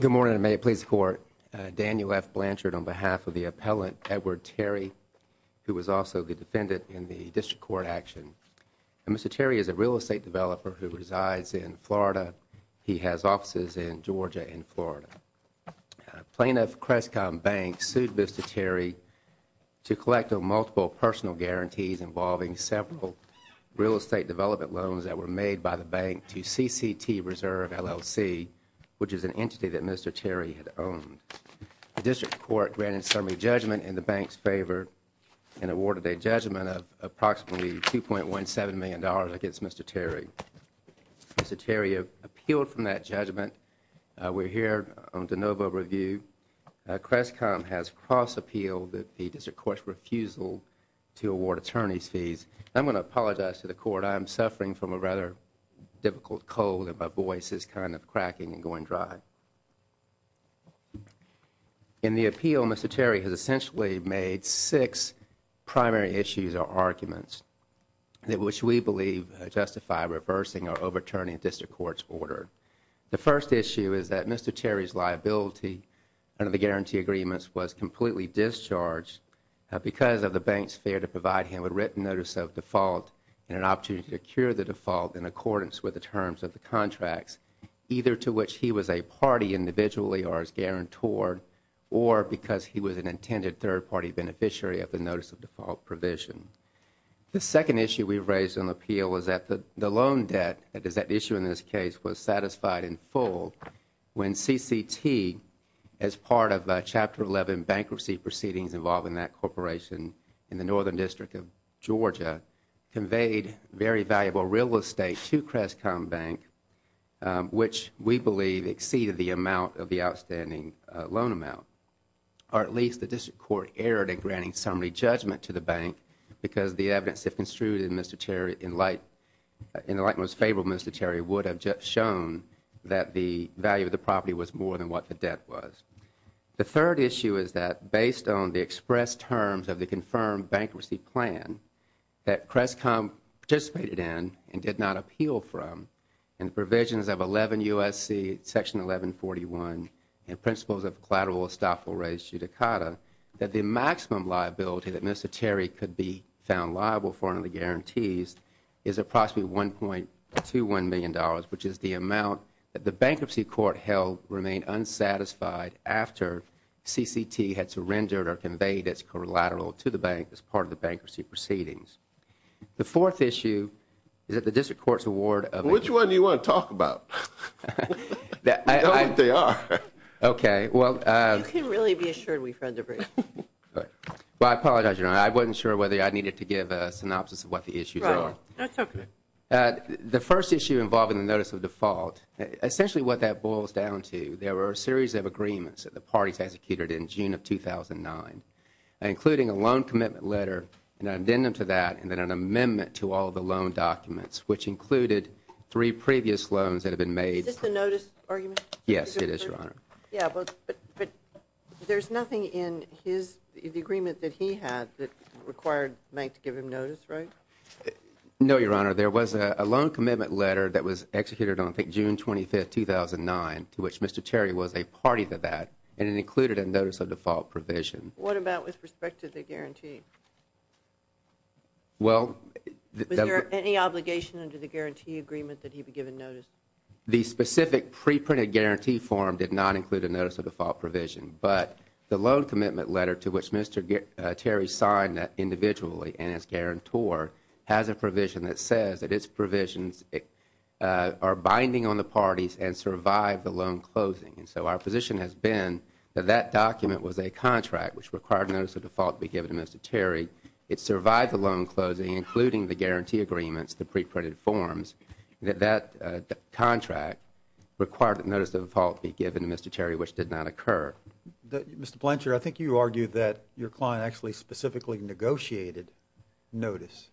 Good morning, and may it please the Court. Daniel F. Blanchard on behalf of the appellant Edward Terry, who was also the defendant in the District Court action. Mr. Terry is a real estate developer who resides in Florida. He has offices in Georgia and Florida. Plaintiff CresCom Bank sued Mr. Terry to collect multiple personal guarantees involving several real estate developers. Mr. Terry has appealed against CresCom Bank to CCT Reserve LLC, which is an entity that Mr. Terry had owned. The District Court granted a summary judgment in the bank's favor and awarded a judgment of approximately $2.17 million against Mr. Terry. Mr. Terry appealed from that judgment. We are here on de novo review. CresCom has cross-appealed the District Court's refusal to award attorney's fees. I am going to apologize to the Court. I am suffering from a rather difficult cold and my voice is kind of cracking and going dry. In the appeal, Mr. Terry has essentially made six primary issues or arguments which we believe justify reversing our overturning the District Court's order. The first issue is that Mr. Terry's liability under the guarantee agreements was completely discharged because of the bank's fear to provide him with written notice of default and an opportunity to secure the default in accordance with the terms of the contracts, either to which he was a party individually or as guarantor or because he was an intended third-party beneficiary of the notice of default provision. The second issue we raised in the appeal was that the loan debt, that is at issue in this case, was satisfied in full when CCT, as part of the Northern District of Georgia, conveyed very valuable real estate to CresCom Bank, which we believe exceeded the amount of the outstanding loan amount, or at least the District Court erred in granting summary judgment to the bank because the evidence if construed in the light most favorable, Mr. Terry would have shown that the value of the property was more than what the debt was. The third issue is that based on the expressed terms of the confirmed bankruptcy plan that CresCom participated in and did not appeal from and provisions of 11 U.S.C. section 1141 and principles of collateral estoppel raise judicata, that the maximum liability that Mr. Terry could be found liable for under the guarantees is approximately $1.21 million, which is the amount that the bankruptcy court held remained unsatisfied after CCT had surrendered or conveyed its collateral to the bank as part of the bankruptcy proceedings. The fourth issue is that the District Court's award of Which one do you want to talk about? I apologize, Your Honor. I wasn't sure whether I needed to give a synopsis of what the issues are. The first issue involving the notice of default, essentially what that boils down to, there were a series of agreements that the parties executed in June of 2009, including a loan commitment letter, an addendum to that, and then an amendment to all of the loan documents, which included three previous loans that had been made Is this the notice argument? Yes, it is, Your Honor. Yes, but there is nothing in the agreement that he had that required the bank to give him notice, right? No, Your Honor. There was a loan commitment letter that was executed on, I think, June 25, 2009, to which Mr. Terry was a party to that, and it included a notice of default provision. What about with respect to the guarantee? Well, Was there any obligation under the guarantee agreement that he be given notice? The specific preprinted guarantee form did not include a notice of default provision, but the loan commitment letter to which Mr. Terry signed individually and as guarantor has a provision that says that its provisions are binding on the parties and survive the loan closing. And so our position has been that that document was a contract which required notice of default to be given to Mr. Terry. It survived the loan closing, including the guarantee agreements, the preprinted forms, that that contract required that notice of default be given to Mr. Terry, which did not occur. Mr. Blanchard, I think you argued that your client actually specifically negotiated notice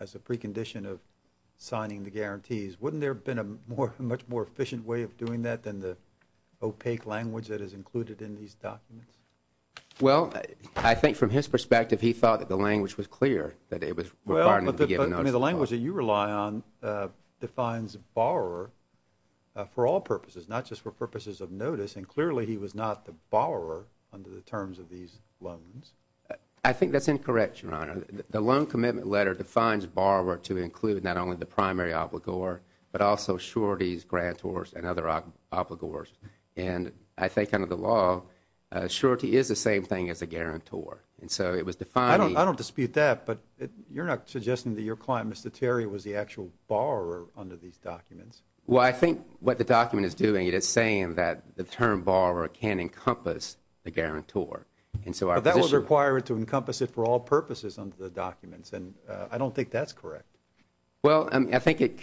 as a precondition of signing the guarantees. Wouldn't there have been a much more efficient way of doing that than the opaque language that is included in these documents? Well, I think from his perspective, he thought that the language was clear, that it was required to be given notice of default. Well, but the language that you rely on defines borrower for all purposes, not just for purposes of notice, and clearly he was not the borrower under the terms of these loans. I think that's incorrect, Your Honor. The loan commitment letter defines borrower to include not only the primary obligor, but also sureties, grantors, and other obligors. And I think under the law, a surety is the same thing as a guarantor. And so it was defined I don't dispute that, but you're not suggesting that your client, Mr. Terry, was the actual borrower under these documents. Well, I think what the document is doing, it is saying that the term borrower can encompass the guarantor. And so our position But that was required to encompass it for all purposes under the documents, and I don't think that's correct. Well, I think it,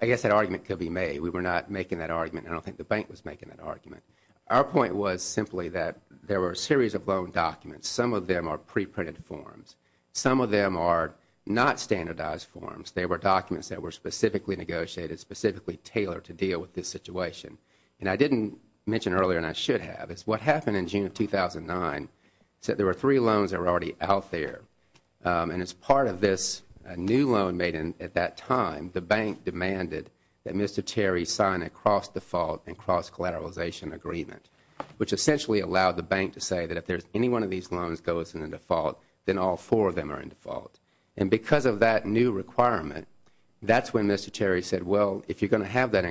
I guess that argument could be made. We were not making that argument, and I don't think the bank was making that argument. Our point was simply that there were a series of loan documents. Some of them are preprinted forms. Some of them are not standardized forms. They were documents that were specifically negotiated, specifically tailored to deal with this situation. And I didn't mention earlier, and I should have, is what happened in June of 2009 is that there were three loans that were already out there. And as part of this, a new loan made at that time, the bank demanded that Mr. Terry sign a cross-default and cross-collateralization agreement, which essentially allowed the bank to say that if any one of these loans goes into default, then all four of them are in that new requirement. That's when Mr. Terry said, well, if you're going to have that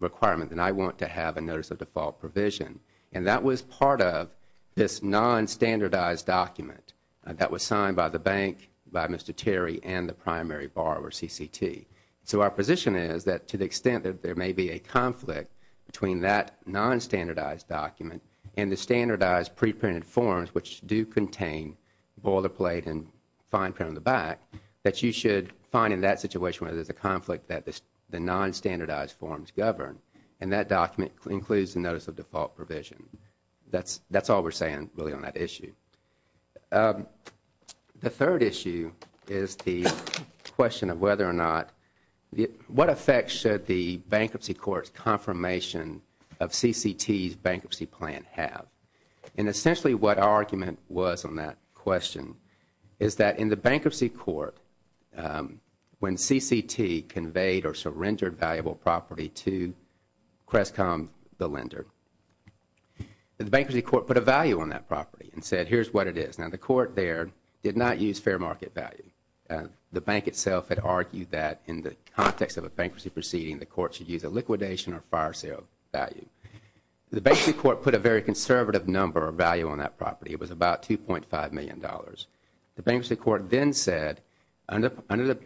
requirement, then I want to have a notice of default provision. And that was part of this nonstandardized document that was signed by the bank, by Mr. Terry, and the primary borrower, CCT. So our position is that to the extent that there may be a conflict between that nonstandardized document and the standardized preprinted forms, which do contain boilerplate and fine print on the back, that you should find in that situation where there's a conflict that the nonstandardized forms govern. And that document includes a notice of default provision. That's all we're saying, really, on that issue. The third issue is the question of whether or not, what effect should the Bankruptcy Court's confirmation of CCT's bankruptcy plan have? And essentially what our argument was on that question is that in the Bankruptcy Court, when CCT conveyed or surrendered valuable property to Crescom, the lender, the Bankruptcy Court put a value on that property and said, here's what it is. Now, the court there did not use fair market value. The bank itself had argued that in the context of a bankruptcy proceeding, the court should use a liquidation or fire sale value. The Bankruptcy Court put a very conservative number of value on that $1.5 million. The Bankruptcy Court then said, under the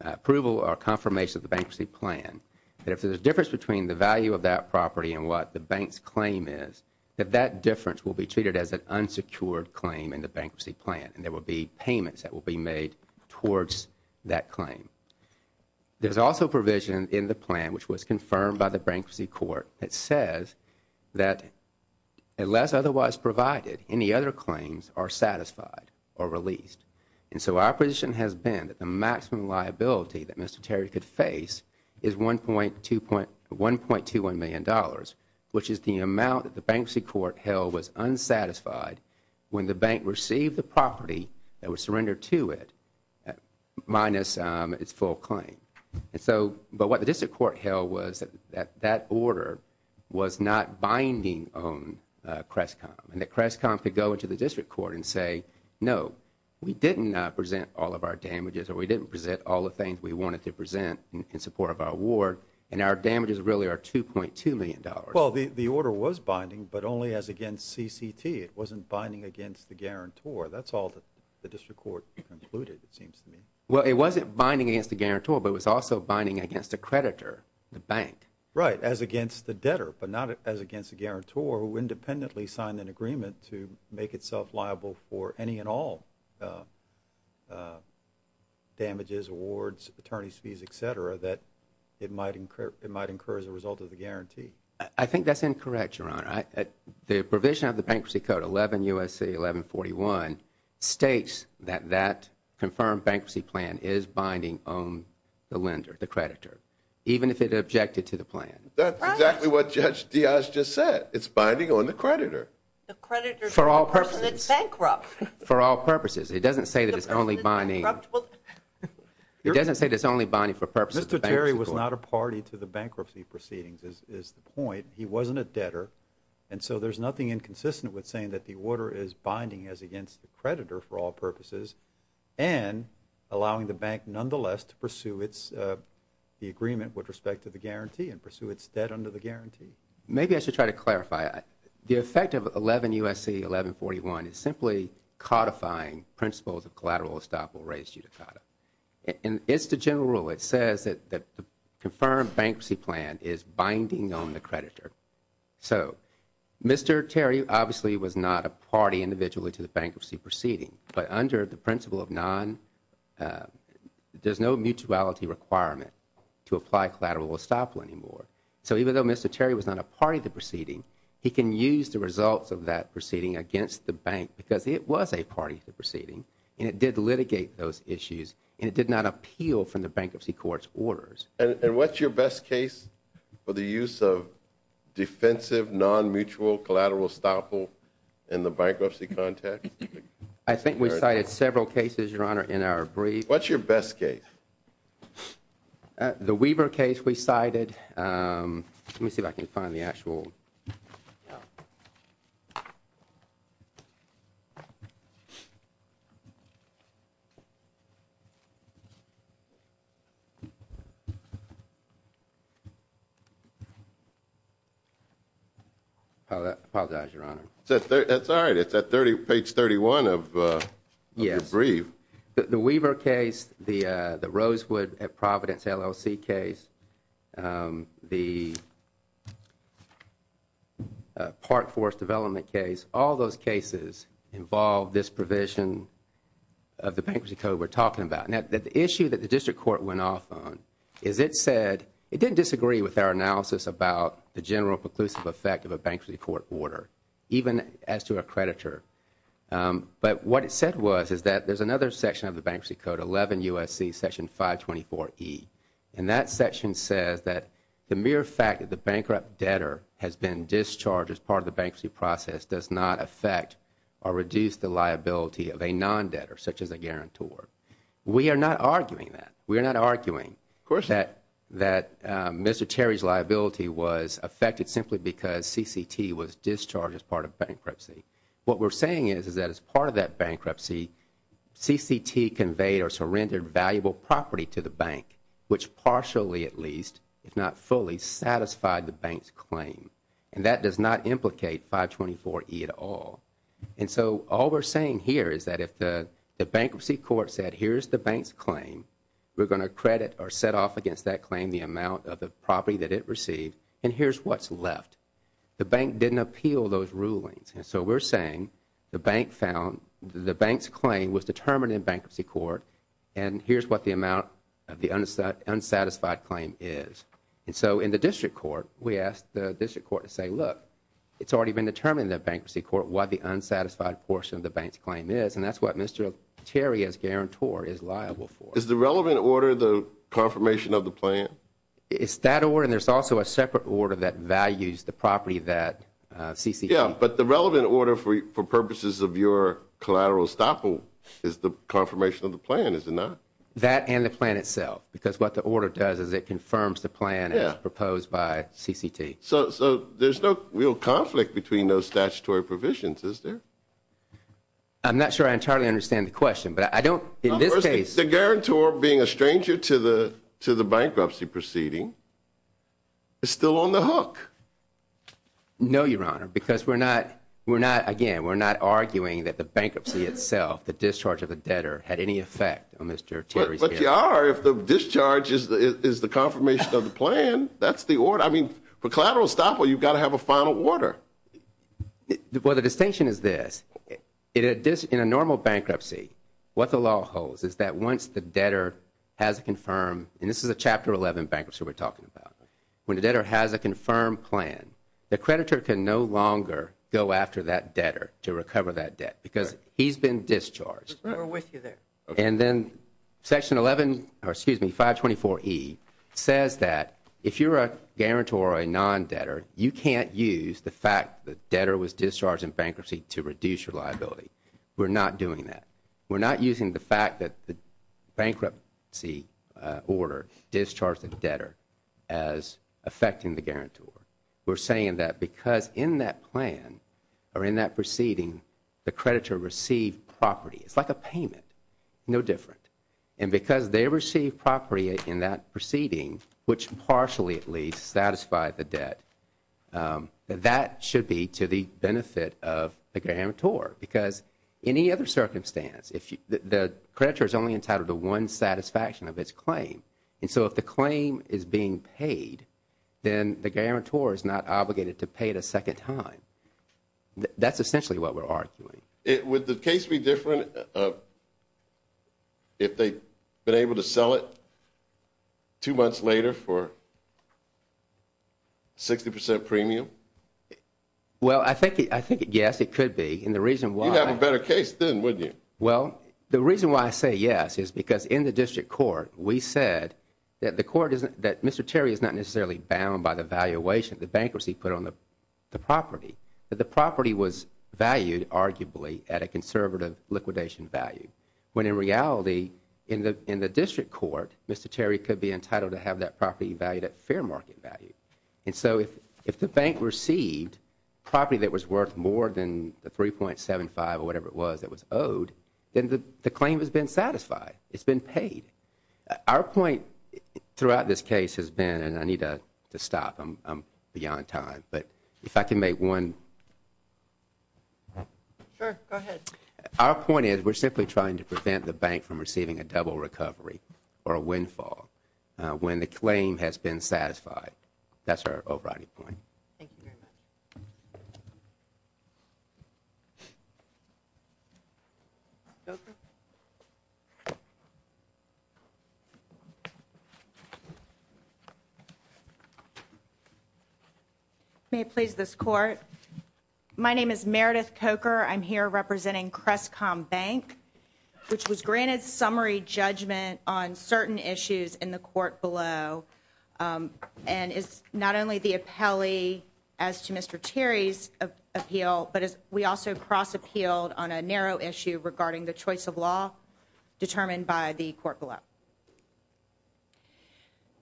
approval or confirmation of the bankruptcy plan, that if there's a difference between the value of that property and what the bank's claim is, that that difference will be treated as an unsecured claim in the bankruptcy plan and there will be payments that will be made towards that claim. There's also provision in the plan which was confirmed by the Bankruptcy Court that says that unless otherwise provided, any other claims are satisfied or released. And so our position has been that the maximum liability that Mr. Terry could face is $1.21 million, which is the amount that the Bankruptcy Court held was unsatisfied when the bank received the property that was surrendered to it minus its full claim. But what the District Court held was that that order was not binding on Crestcom and that Crestcom could go into the District Court and say, no, we didn't present all of our damages or we didn't present all of the things we wanted to present in support of our award and our damages really are $2.2 million. Well, the order was binding, but only as against CCT. It wasn't binding against the guarantor. That's all that the District Court concluded, it seems to me. Well, it wasn't binding against the guarantor, but it was also binding against the creditor, the bank. Right, as against the debtor, but not as against the guarantor who independently signed an agreement to make itself liable for any and all damages, awards, attorney's fees, etc., that it might incur as a result of the guarantee. I think that's incorrect, Your Honor. The provision of the Bankruptcy Code 11 U.S.C. 1141 states that that confirmed bankruptcy plan is binding on the lender, the creditor, even if it objected to the plan. That's exactly what Judge Dias just said. It's binding on the creditor. The creditor is the person that's bankrupt. For all purposes. It doesn't say that it's only binding for purposes of the bank. Mr. Terry was not a party to the bankruptcy proceedings is the point. He wasn't a debtor and so there's nothing inconsistent with saying that the order is binding as against the creditor for all purposes and allowing the bank nonetheless to pursue the agreement with respect to the guarantee and pursue its debt under the guarantee. Maybe I should try to clarify. The effect of 11 U.S.C. 1141 is simply codifying principles of collateral estoppel res judicata. It's the general rule. It says that the confirmed bankruptcy plan is binding on the creditor. So Mr. Terry obviously was not a party individually to the bankruptcy proceeding, but under the principle of non, there's no mutuality requirement to apply collateral estoppel anymore. So even though Mr. Terry was not a party to the proceeding, he can use the results of that proceeding against the bank because it was a party to the proceeding and it did litigate those issues and it did not appeal from the bankruptcy court's orders. And what's your best case for the use of defensive non-mutual collateral estoppel in the bankruptcy context? I think we cited several cases, Your Honor, in our brief. What's your best case? The Weaver case we cited. Let me see if I can find the actual. Apologize, Your Honor. That's all right. It's at page 31 of your brief. The Weaver case, the Rosewood at Providence LLC case, the Park Forest Development case, all those cases involve this provision of the bankruptcy code we're talking about. The issue that the district court went off on is it said, it didn't disagree with our analysis about the general preclusive effect of a bankruptcy court order even as to a creditor, but what it said was is that there's another section of the bankruptcy code, 11 U.S.C. Section 524E, and that section says that the mere fact that the bankrupt debtor has been discharged as part of the bankruptcy process does not affect or reduce the liability of a non-debtor, such as a guarantor. We are not arguing that. We are not arguing that Mr. Terry's liability was affected simply because CCT was discharged as part of bankruptcy. What we're saying is that as part of that bankruptcy, CCT conveyed or surrendered valuable property to the bank, which partially at least, if not fully, satisfied the bank's claim. And that does not implicate 524E at all. And so all we're saying here is that if the bankruptcy court said, here's the bank's claim, we're going to credit or set off against that claim the amount of the property that it received, and here's what's left. The bank didn't appeal those rulings. And so we're saying the bank found, the bank's claim was determined in bankruptcy court, and here's what the amount of the unsatisfied claim is. And so in the district court, we asked the district court to say, look, it's already been determined in the bankruptcy court what the unsatisfied portion of the bank's claim is, and that's what Mr. Terry, as guarantor, is liable for. Is the relevant order the confirmation of the plan? It's that order, and there's also a separate order that values the property that CCT. But the relevant order for purposes of your collateral estoppel is the confirmation of the plan, is it not? That and the plan itself, because what the order does is it confirms the plan as proposed by CCT. So there's no real conflict between those statutory provisions, is there? I'm not sure I entirely understand the question, but I don't, in this case... The guarantor, being a stranger to the bankruptcy proceeding, is still on the hook. No, Your Honor, because we're not, again, we're not arguing that the bankruptcy itself, the discharge of the debtor, had any effect on Mr. Terry's case. But you are, if the discharge is the confirmation of the plan, that's the order. I mean, for collateral estoppel, you've got to have a final order. Well, the distinction is this. In a normal bankruptcy, what the law holds is that once the debtor has a confirmed, and this is a Chapter 11 bankruptcy we're talking about, when the debtor has a confirmed plan, the creditor can no longer go after that debtor to recover that debt, because he's been discharged. We're with you there. And then Section 11, or excuse me, 524E, says that if you're a guarantor or a non-debtor, you can't use the fact that the debtor was discharged in bankruptcy to reduce your liability. We're not doing that. We're not using the fact that the bankruptcy order discharged the debtor as affecting the guarantor. We're saying that because in that plan, or in that proceeding, the creditor received property, it's like a payment, no different. And because they received property in that proceeding, which partially at least satisfied the debt, that that should be to the benefit of the guarantor. Because in any other circumstance, the creditor is only entitled to one satisfaction of his claim. And so if the claim is being paid, then the guarantor is not obligated to pay it a second time. That's essentially what we're arguing. Would the case be different if they'd been able to sell it two months later for 60% premium? Well, I think, yes, it could be. And the reason why... You'd have a better case then, wouldn't you? Well, the reason why I say yes is because in the district court, we said that the court isn't, that Mr. Terry is not necessarily bound by the valuation the bankruptcy put on the property. That the property was valued, arguably, at a conservative liquidation value. When in reality, in the district court, Mr. Terry could be entitled to have that property valued at fair market value. And so if the bank received property that was worth more than the 3.75 or whatever it was that was owed, then the claim has been satisfied. It's been paid. Our point throughout this case has been, and I need to stop, I'm beyond time, but if I can make one... Sure, go ahead. Our point is, we're simply trying to prevent the bank from receiving a double recovery or a windfall when the claim has been satisfied. That's our overriding point. Thank you very much. May it please this court? My name is Meredith Coker. I'm here representing Crestcom Bank, which was granted summary judgment on certain issues in the court below. And it's not only the appellee as to Mr. Terry's appeal, but we also cross-appealed on a narrow issue regarding the choice of law determined by the court below.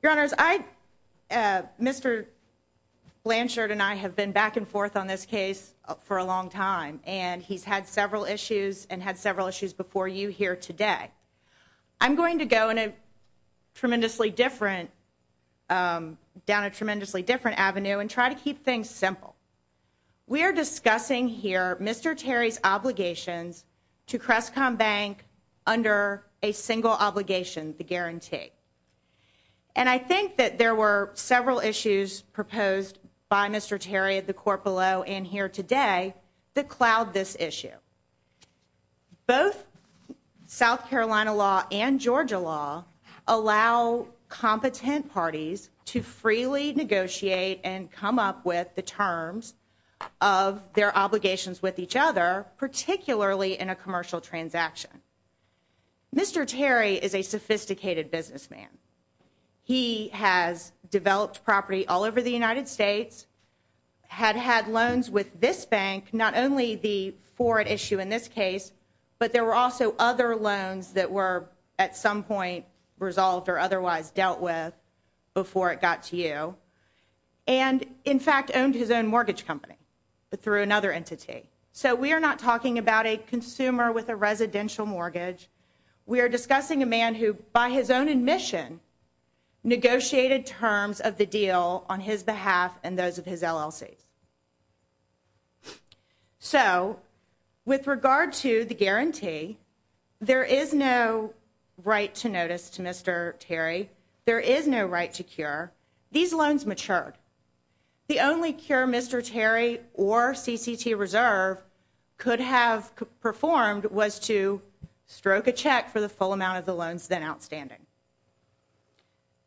Your Honors, Mr. Blanchard and I have been back and forth on this case for a long time, and he's had several issues and had several issues before you here today. I'm going to keep things simple. We are discussing here Mr. Terry's obligations to Crestcom Bank under a single obligation, the guarantee. And I think that there were several issues proposed by Mr. Terry at the court below and here today that cloud this issue. Both South Carolina law and Georgia law allow competent parties to freely negotiate and come up with the terms of their obligations with each other, particularly in a commercial transaction. Mr. Terry is a sophisticated businessman. He has developed property all with this bank, not only the for it issue in this case, but there were also other loans that were at some point resolved or otherwise dealt with before it got to you, and in fact owned his own mortgage company, but through another entity. So we are not talking about a consumer with a residential mortgage. We are discussing a man who, by his own admission, negotiated terms of the deal on his behalf and those of his LLCs. So with regard to the guarantee, there is no right to notice to Mr. Terry. There is no right to cure. These loans matured. The only cure Mr. Terry or CCT Reserve could have performed was to stroke a check for the full amount of the loans then outstanding.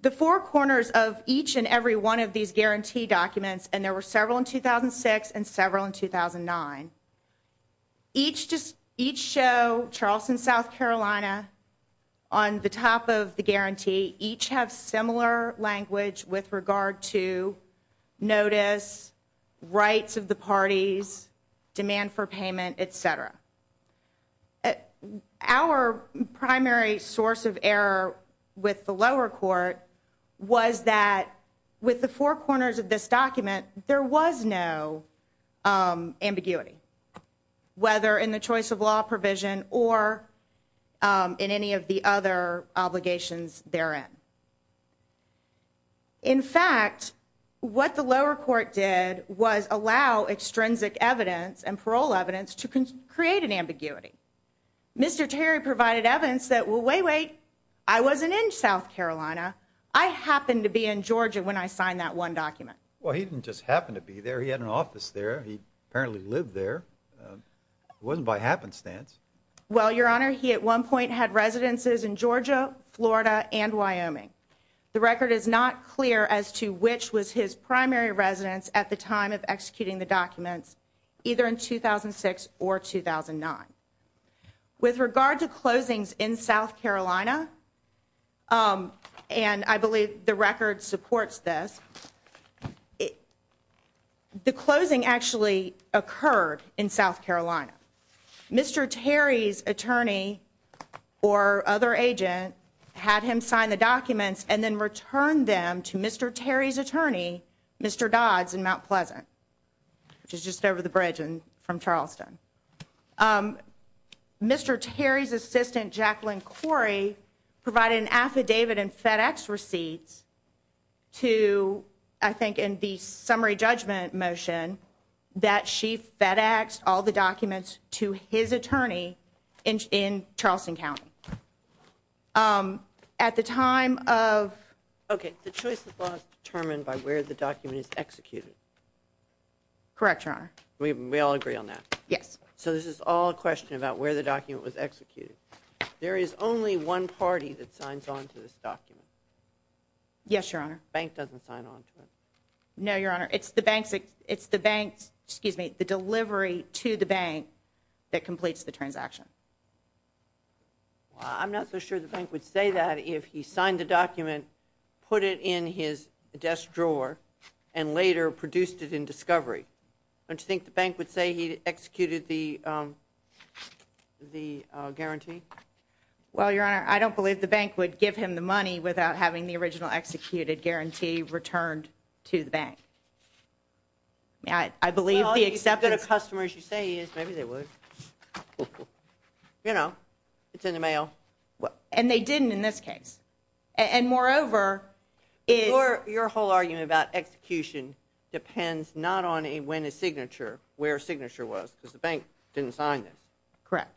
The four corners of each and every one of these guarantee documents, and there were several in 2006 and several in 2009, each show Charleston, South Carolina on the top of the guarantee, each have similar language with regard to notice, rights of the parties, demand for payment, et cetera. Our primary source of error with the lower court was that with the four corners of this document, there was no ambiguity, whether in the choice of law provision or in any of the other obligations therein. In fact, what the lower court did was allow extrinsic evidence and parole evidence to create an ambiguity. Mr. Terry provided evidence that, well, wait, wait, I wasn't in South Carolina. I happened to be in Georgia when I signed that one document. Well, he didn't just happen to be there. He had an office there. He apparently lived there. It wasn't by happenstance. Well, Your Honor, he at one point had residences in Georgia, Florida, and Wyoming. The record is not clear as to which was his primary residence at the time of executing the documents, either in 2006 or 2009. With regard to closings in South Carolina, and I believe the record supports this, the closing actually occurred in South Carolina. Mr. Terry's attorney or other agent had him sign the documents and then return them to Mr. Terry's attorney, Mr. Dodds, in Mount Pleasant, which is just over the bridge from Charleston. Mr. Terry's assistant, Jacqueline Corey, provided an affidavit and FedEx receipts to, I think in the summary judgment motion, that she FedExed all the documents to his attorney in Charleston County. At the time of... Okay, the choice of law is determined by where the document is executed. Correct, Your Honor. We all agree on that? Yes. So this is all a question about where the document was executed. There is only one party that signs on to this document? Yes, Your Honor. The bank doesn't sign on to it? No, Your Honor. It's the bank's, excuse me, the delivery to the bank that completes the transaction. Well, I'm not so sure the bank would say that if he signed the document, put it in his desk and later produced it in discovery. Don't you think the bank would say he executed the guarantee? Well, Your Honor, I don't believe the bank would give him the money without having the original executed guarantee returned to the bank. I believe the acceptance... Well, if he's as good a customer as you say he is, maybe they would. You know, it's in the mail. And they didn't in this case. And moreover... Your whole argument about execution depends not on when a signature, where a signature was, because the bank didn't sign this. Correct.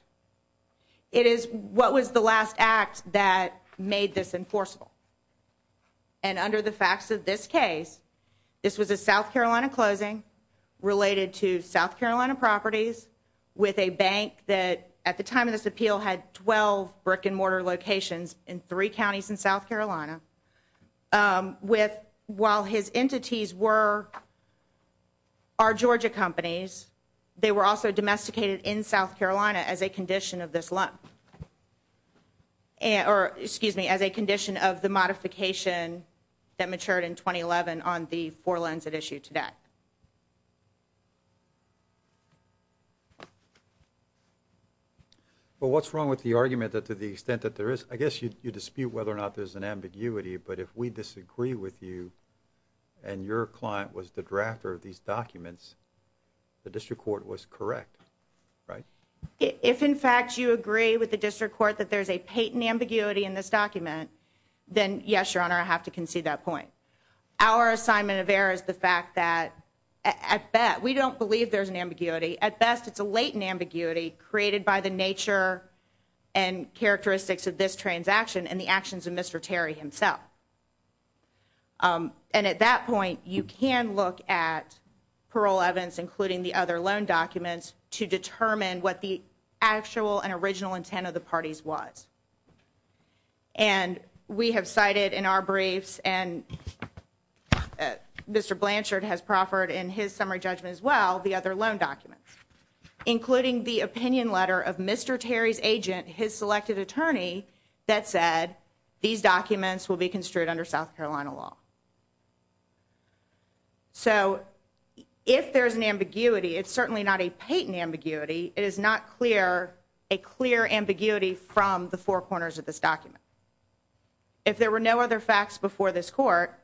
It is what was the last act that made this enforceable. And under the facts of this case, this was a South Carolina closing related to South Carolina properties with a bank that at the time of this appeal had 12 brick and mortar locations in three counties in South Carolina. While his entities were our Georgia companies, they were also domesticated in South Carolina as a condition of this loan. Excuse me, as a condition of the modification that matured in 2011 on the four loans at issue today. Well, what's wrong with the argument that to the extent that there is... I guess you dispute whether or not there's an ambiguity, but if we disagree with you and your client was the drafter of these documents, the district court was correct, right? If in fact you agree with the district court that there's a patent ambiguity in this document, then yes, Your Honor, I have to concede that point. Our assignment of error is the fact that at best... We don't believe there's an ambiguity. At best, it's a latent ambiguity created by the nature and characteristics of this transaction and the actions of Mr. Terry himself. And at that point, you can look at parole evidence including the other loan documents to determine what the actual and original intent of the parties was. And we have cited in our briefs and Mr. Blanchard has proffered in his summary judgment as well the other loan documents, including the opinion letter of Mr. Terry's agent, his selected attorney, that said these documents will be construed under South Carolina law. So if there's an ambiguity, it's certainly not a patent ambiguity. It is not a clear ambiguity from the four corners of this document. If there were no other facts before this court,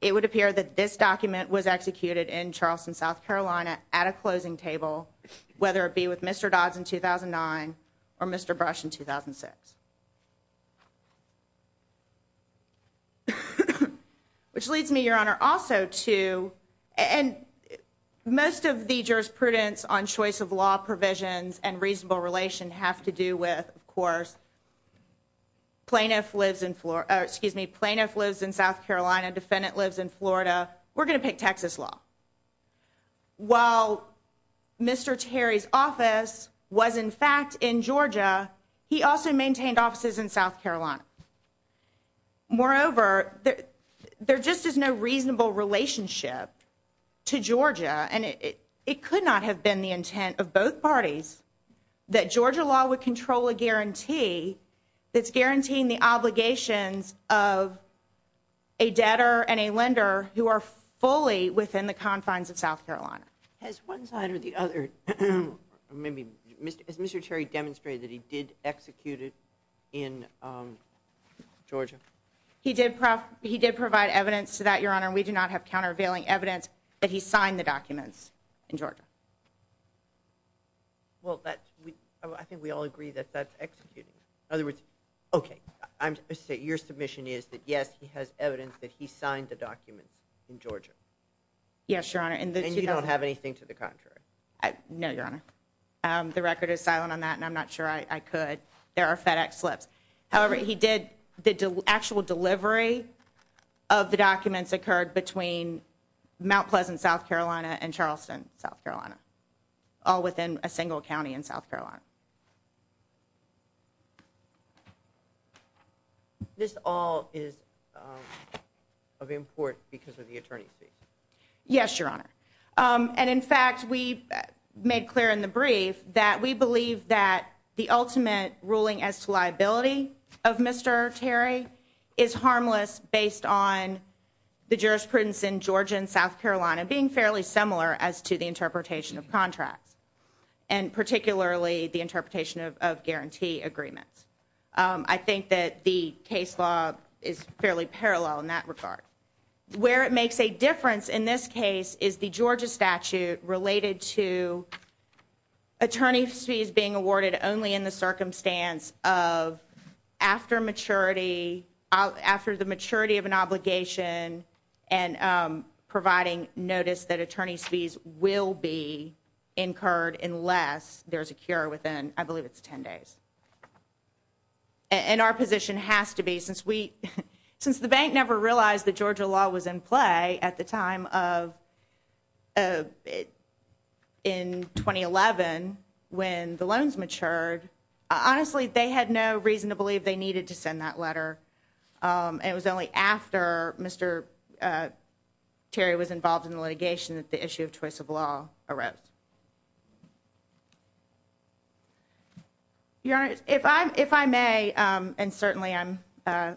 it would appear that this document was executed in Charleston, South Carolina at a closing table, whether it be with Mr. Dodds in 2009 or Mr. Brush in 2006. Which leads me, Your Honor, also to... And most of the jurisprudence on choice of law provisions and reasonable relation have to do with, of course, plaintiff lives in... defendant lives in Florida, we're going to pick Texas law. While Mr. Terry's office was, in fact, in Georgia, he also maintained offices in South Carolina. Moreover, there just is no reasonable relationship to Georgia and it could not have been the intent of both parties that Georgia law would control a guarantee that's guaranteeing the obligations of a debtor and a lender who are fully within the confines of South Carolina. Has one side or the other... Has Mr. Terry demonstrated that he did execute it in Georgia? He did provide evidence to that, Your Honor. We do not have countervailing evidence that he signed the documents in Georgia. Well, that's... I think we all agree that that's executing. In other words... Okay. Your submission is that, yes, he has evidence that he signed the documents in Georgia. Yes, Your Honor. And you don't have anything to the contrary? No, Your Honor. The record is silent on that and I'm not sure I could. There are FedEx slips. However, he did... The actual delivery of the documents occurred between Mount Pleasant, South Carolina and Charleston, South Carolina. All within a single county in South Carolina. This all is of import because of the attorney's fees? Yes, Your Honor. And in fact, we made clear in the brief that we believe that the ultimate ruling as to liability of Mr. Terry is harmless based on the jurisprudence in Georgia and South Carolina being fairly similar as to the interpretation of contracts. And particularly the interpretation of guarantee agreements. I think that the case law is fairly parallel in that regard. Where it makes a difference in this case is the Georgia statute related to attorney's fees being awarded only in the circumstance of after the maturity of an obligation and providing notice that attorney's fees will be incurred unless there's a cure within, I believe it's 10 days. And our position has to be, since the bank never realized that Georgia law was in play at the time of... When the loans matured, honestly, they had no reason to believe they needed to send that letter. And it was only after Mr. Terry was involved in litigation that the issue of choice of law arose. Your Honor, if I may, and certainly I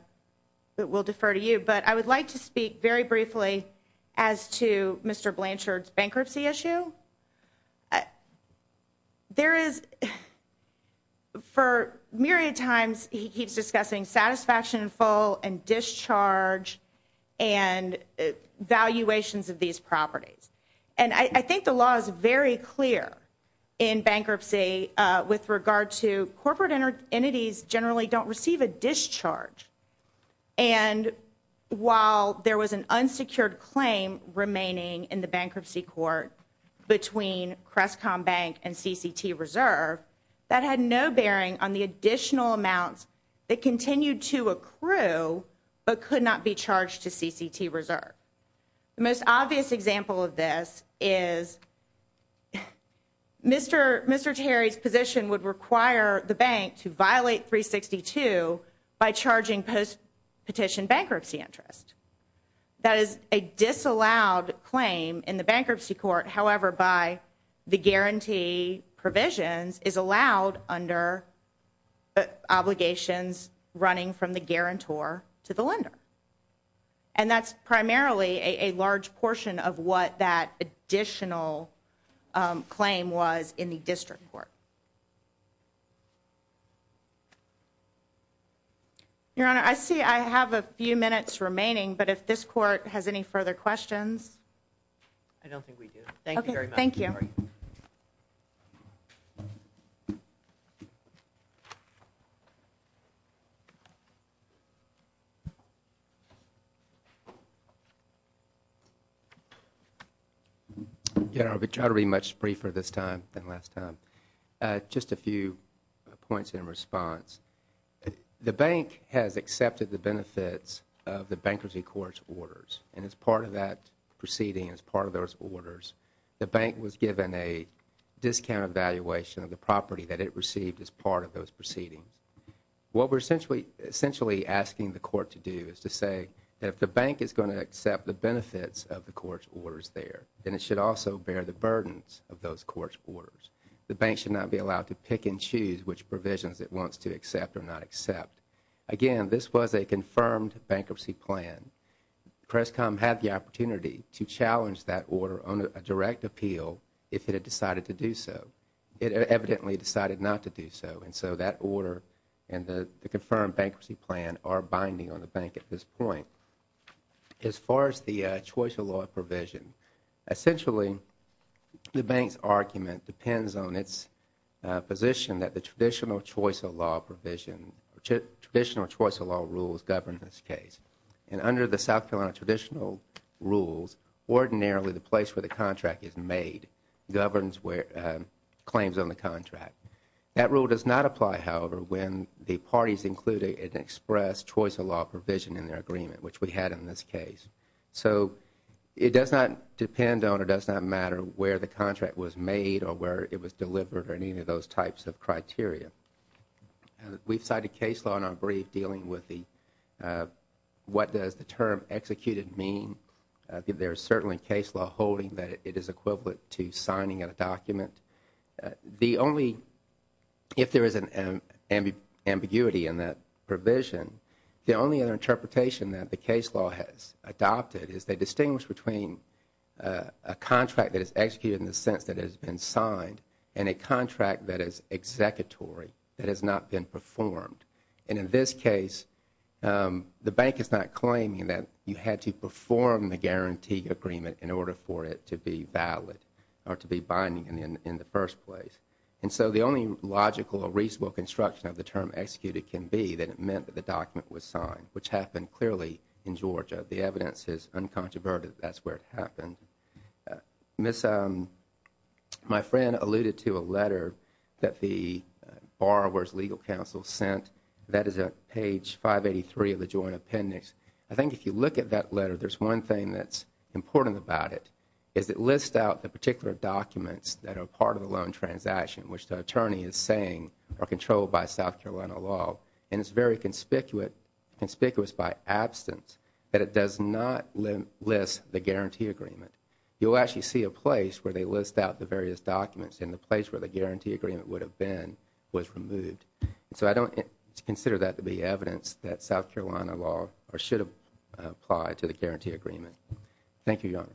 will defer to you, but I would like to speak very briefly as to Mr. Blanchard's bankruptcy issue. There is, for myriad times he keeps discussing satisfaction in full and discharge and valuations of these properties. And I think the law is very clear in bankruptcy with regard to corporate entities generally don't receive a discharge. And while there was an unsecured claim remaining in the bankruptcy court between Crestcom Bank and CCT Reserve, that had no bearing on the additional amounts that continued to accrue but could not be charged to CCT Reserve. The most obvious example of this is Mr. Terry's position would require the bank to violate 362 by charging post-petition bankruptcy interest. That is a disallowed claim in the bankruptcy court, however, by the guarantee provisions is allowed under obligations running from the guarantor to the lender. And that's primarily a large portion of what that additional claim was in the district court. Your Honor, I see I have a few minutes remaining, but if this court has any further questions. I don't think we do. Thank you very much. Thank you. Your Honor, I will try to be much briefer this time than last time. Just a few points in response. The bank has accepted the benefits of the bankruptcy court's orders. And as part of that proceeding, as part of those orders, the bank was given a discounted valuation of the property that it received as part of those proceedings. What we are essentially asking the court to do is to say that if the bank is going to accept the benefits of the court's orders there, then it should also bear the burdens of those court's orders. The bank should not be allowed to pick and choose which provisions it wants to accept or not accept. Again, this was a confirmed bankruptcy plan. Crestcom had the opportunity to challenge that order on a direct appeal if it had decided to do so. And so that order and the confirmed bankruptcy plan are binding on the bank at this point. As far as the choice of law provision, essentially the bank's argument depends on its position that the traditional choice of law provision, traditional choice of law rules govern this case. And under the South Carolina traditional rules, ordinarily the place where the contract is made claims on the contract. That rule does not apply, however, when the parties include an express choice of law provision in their agreement, which we had in this case. So it does not depend on or does not matter where the contract was made or where it was delivered or any of those types of criteria. We've cited case law in our brief dealing with the what does the term executed mean. There is certainly case law holding that it is equivalent to signing a document. The only, if there is an ambiguity in that provision, the only other interpretation that the case law has adopted is they distinguish between a contract that is executed in the sense that it has been signed and a contract that is executory, that has not been performed. And in this case, the bank is not claiming that you had to perform the guarantee agreement in order for it to be valid or to be binding in the first place. And so the only logical or reasonable construction of the term executed can be that it meant that the document was signed, which happened clearly in Georgia. The evidence is uncontroverted that that's where it happened. My friend alluded to a letter that the Borrower's Legal Counsel sent. That is at page 583 of the joint appendix. I think if you look at that letter, there's one thing that's important about it, is it lists out the particular documents that are part of the loan transaction, which the attorney is saying are controlled by South Carolina law. And it's very conspicuous by absence that it does not list the guarantee agreement. You'll actually see a place where they list out the various documents, and the place where the guarantee agreement would have been was removed. And so I don't consider that to be evidence that South Carolina law should apply to the guarantee agreement. Thank you, Your Honor.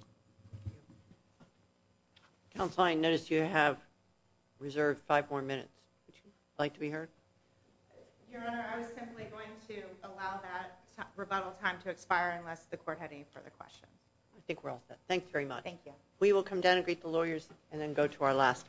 Counsel, I notice you have reserved five more minutes. Would you like to be heard? Your Honor, I was simply going to allow that rebuttal time to expire unless the court had any further questions. I think we're all set. Thanks very much. Thank you. We will come down and greet the lawyers and then go to our last case.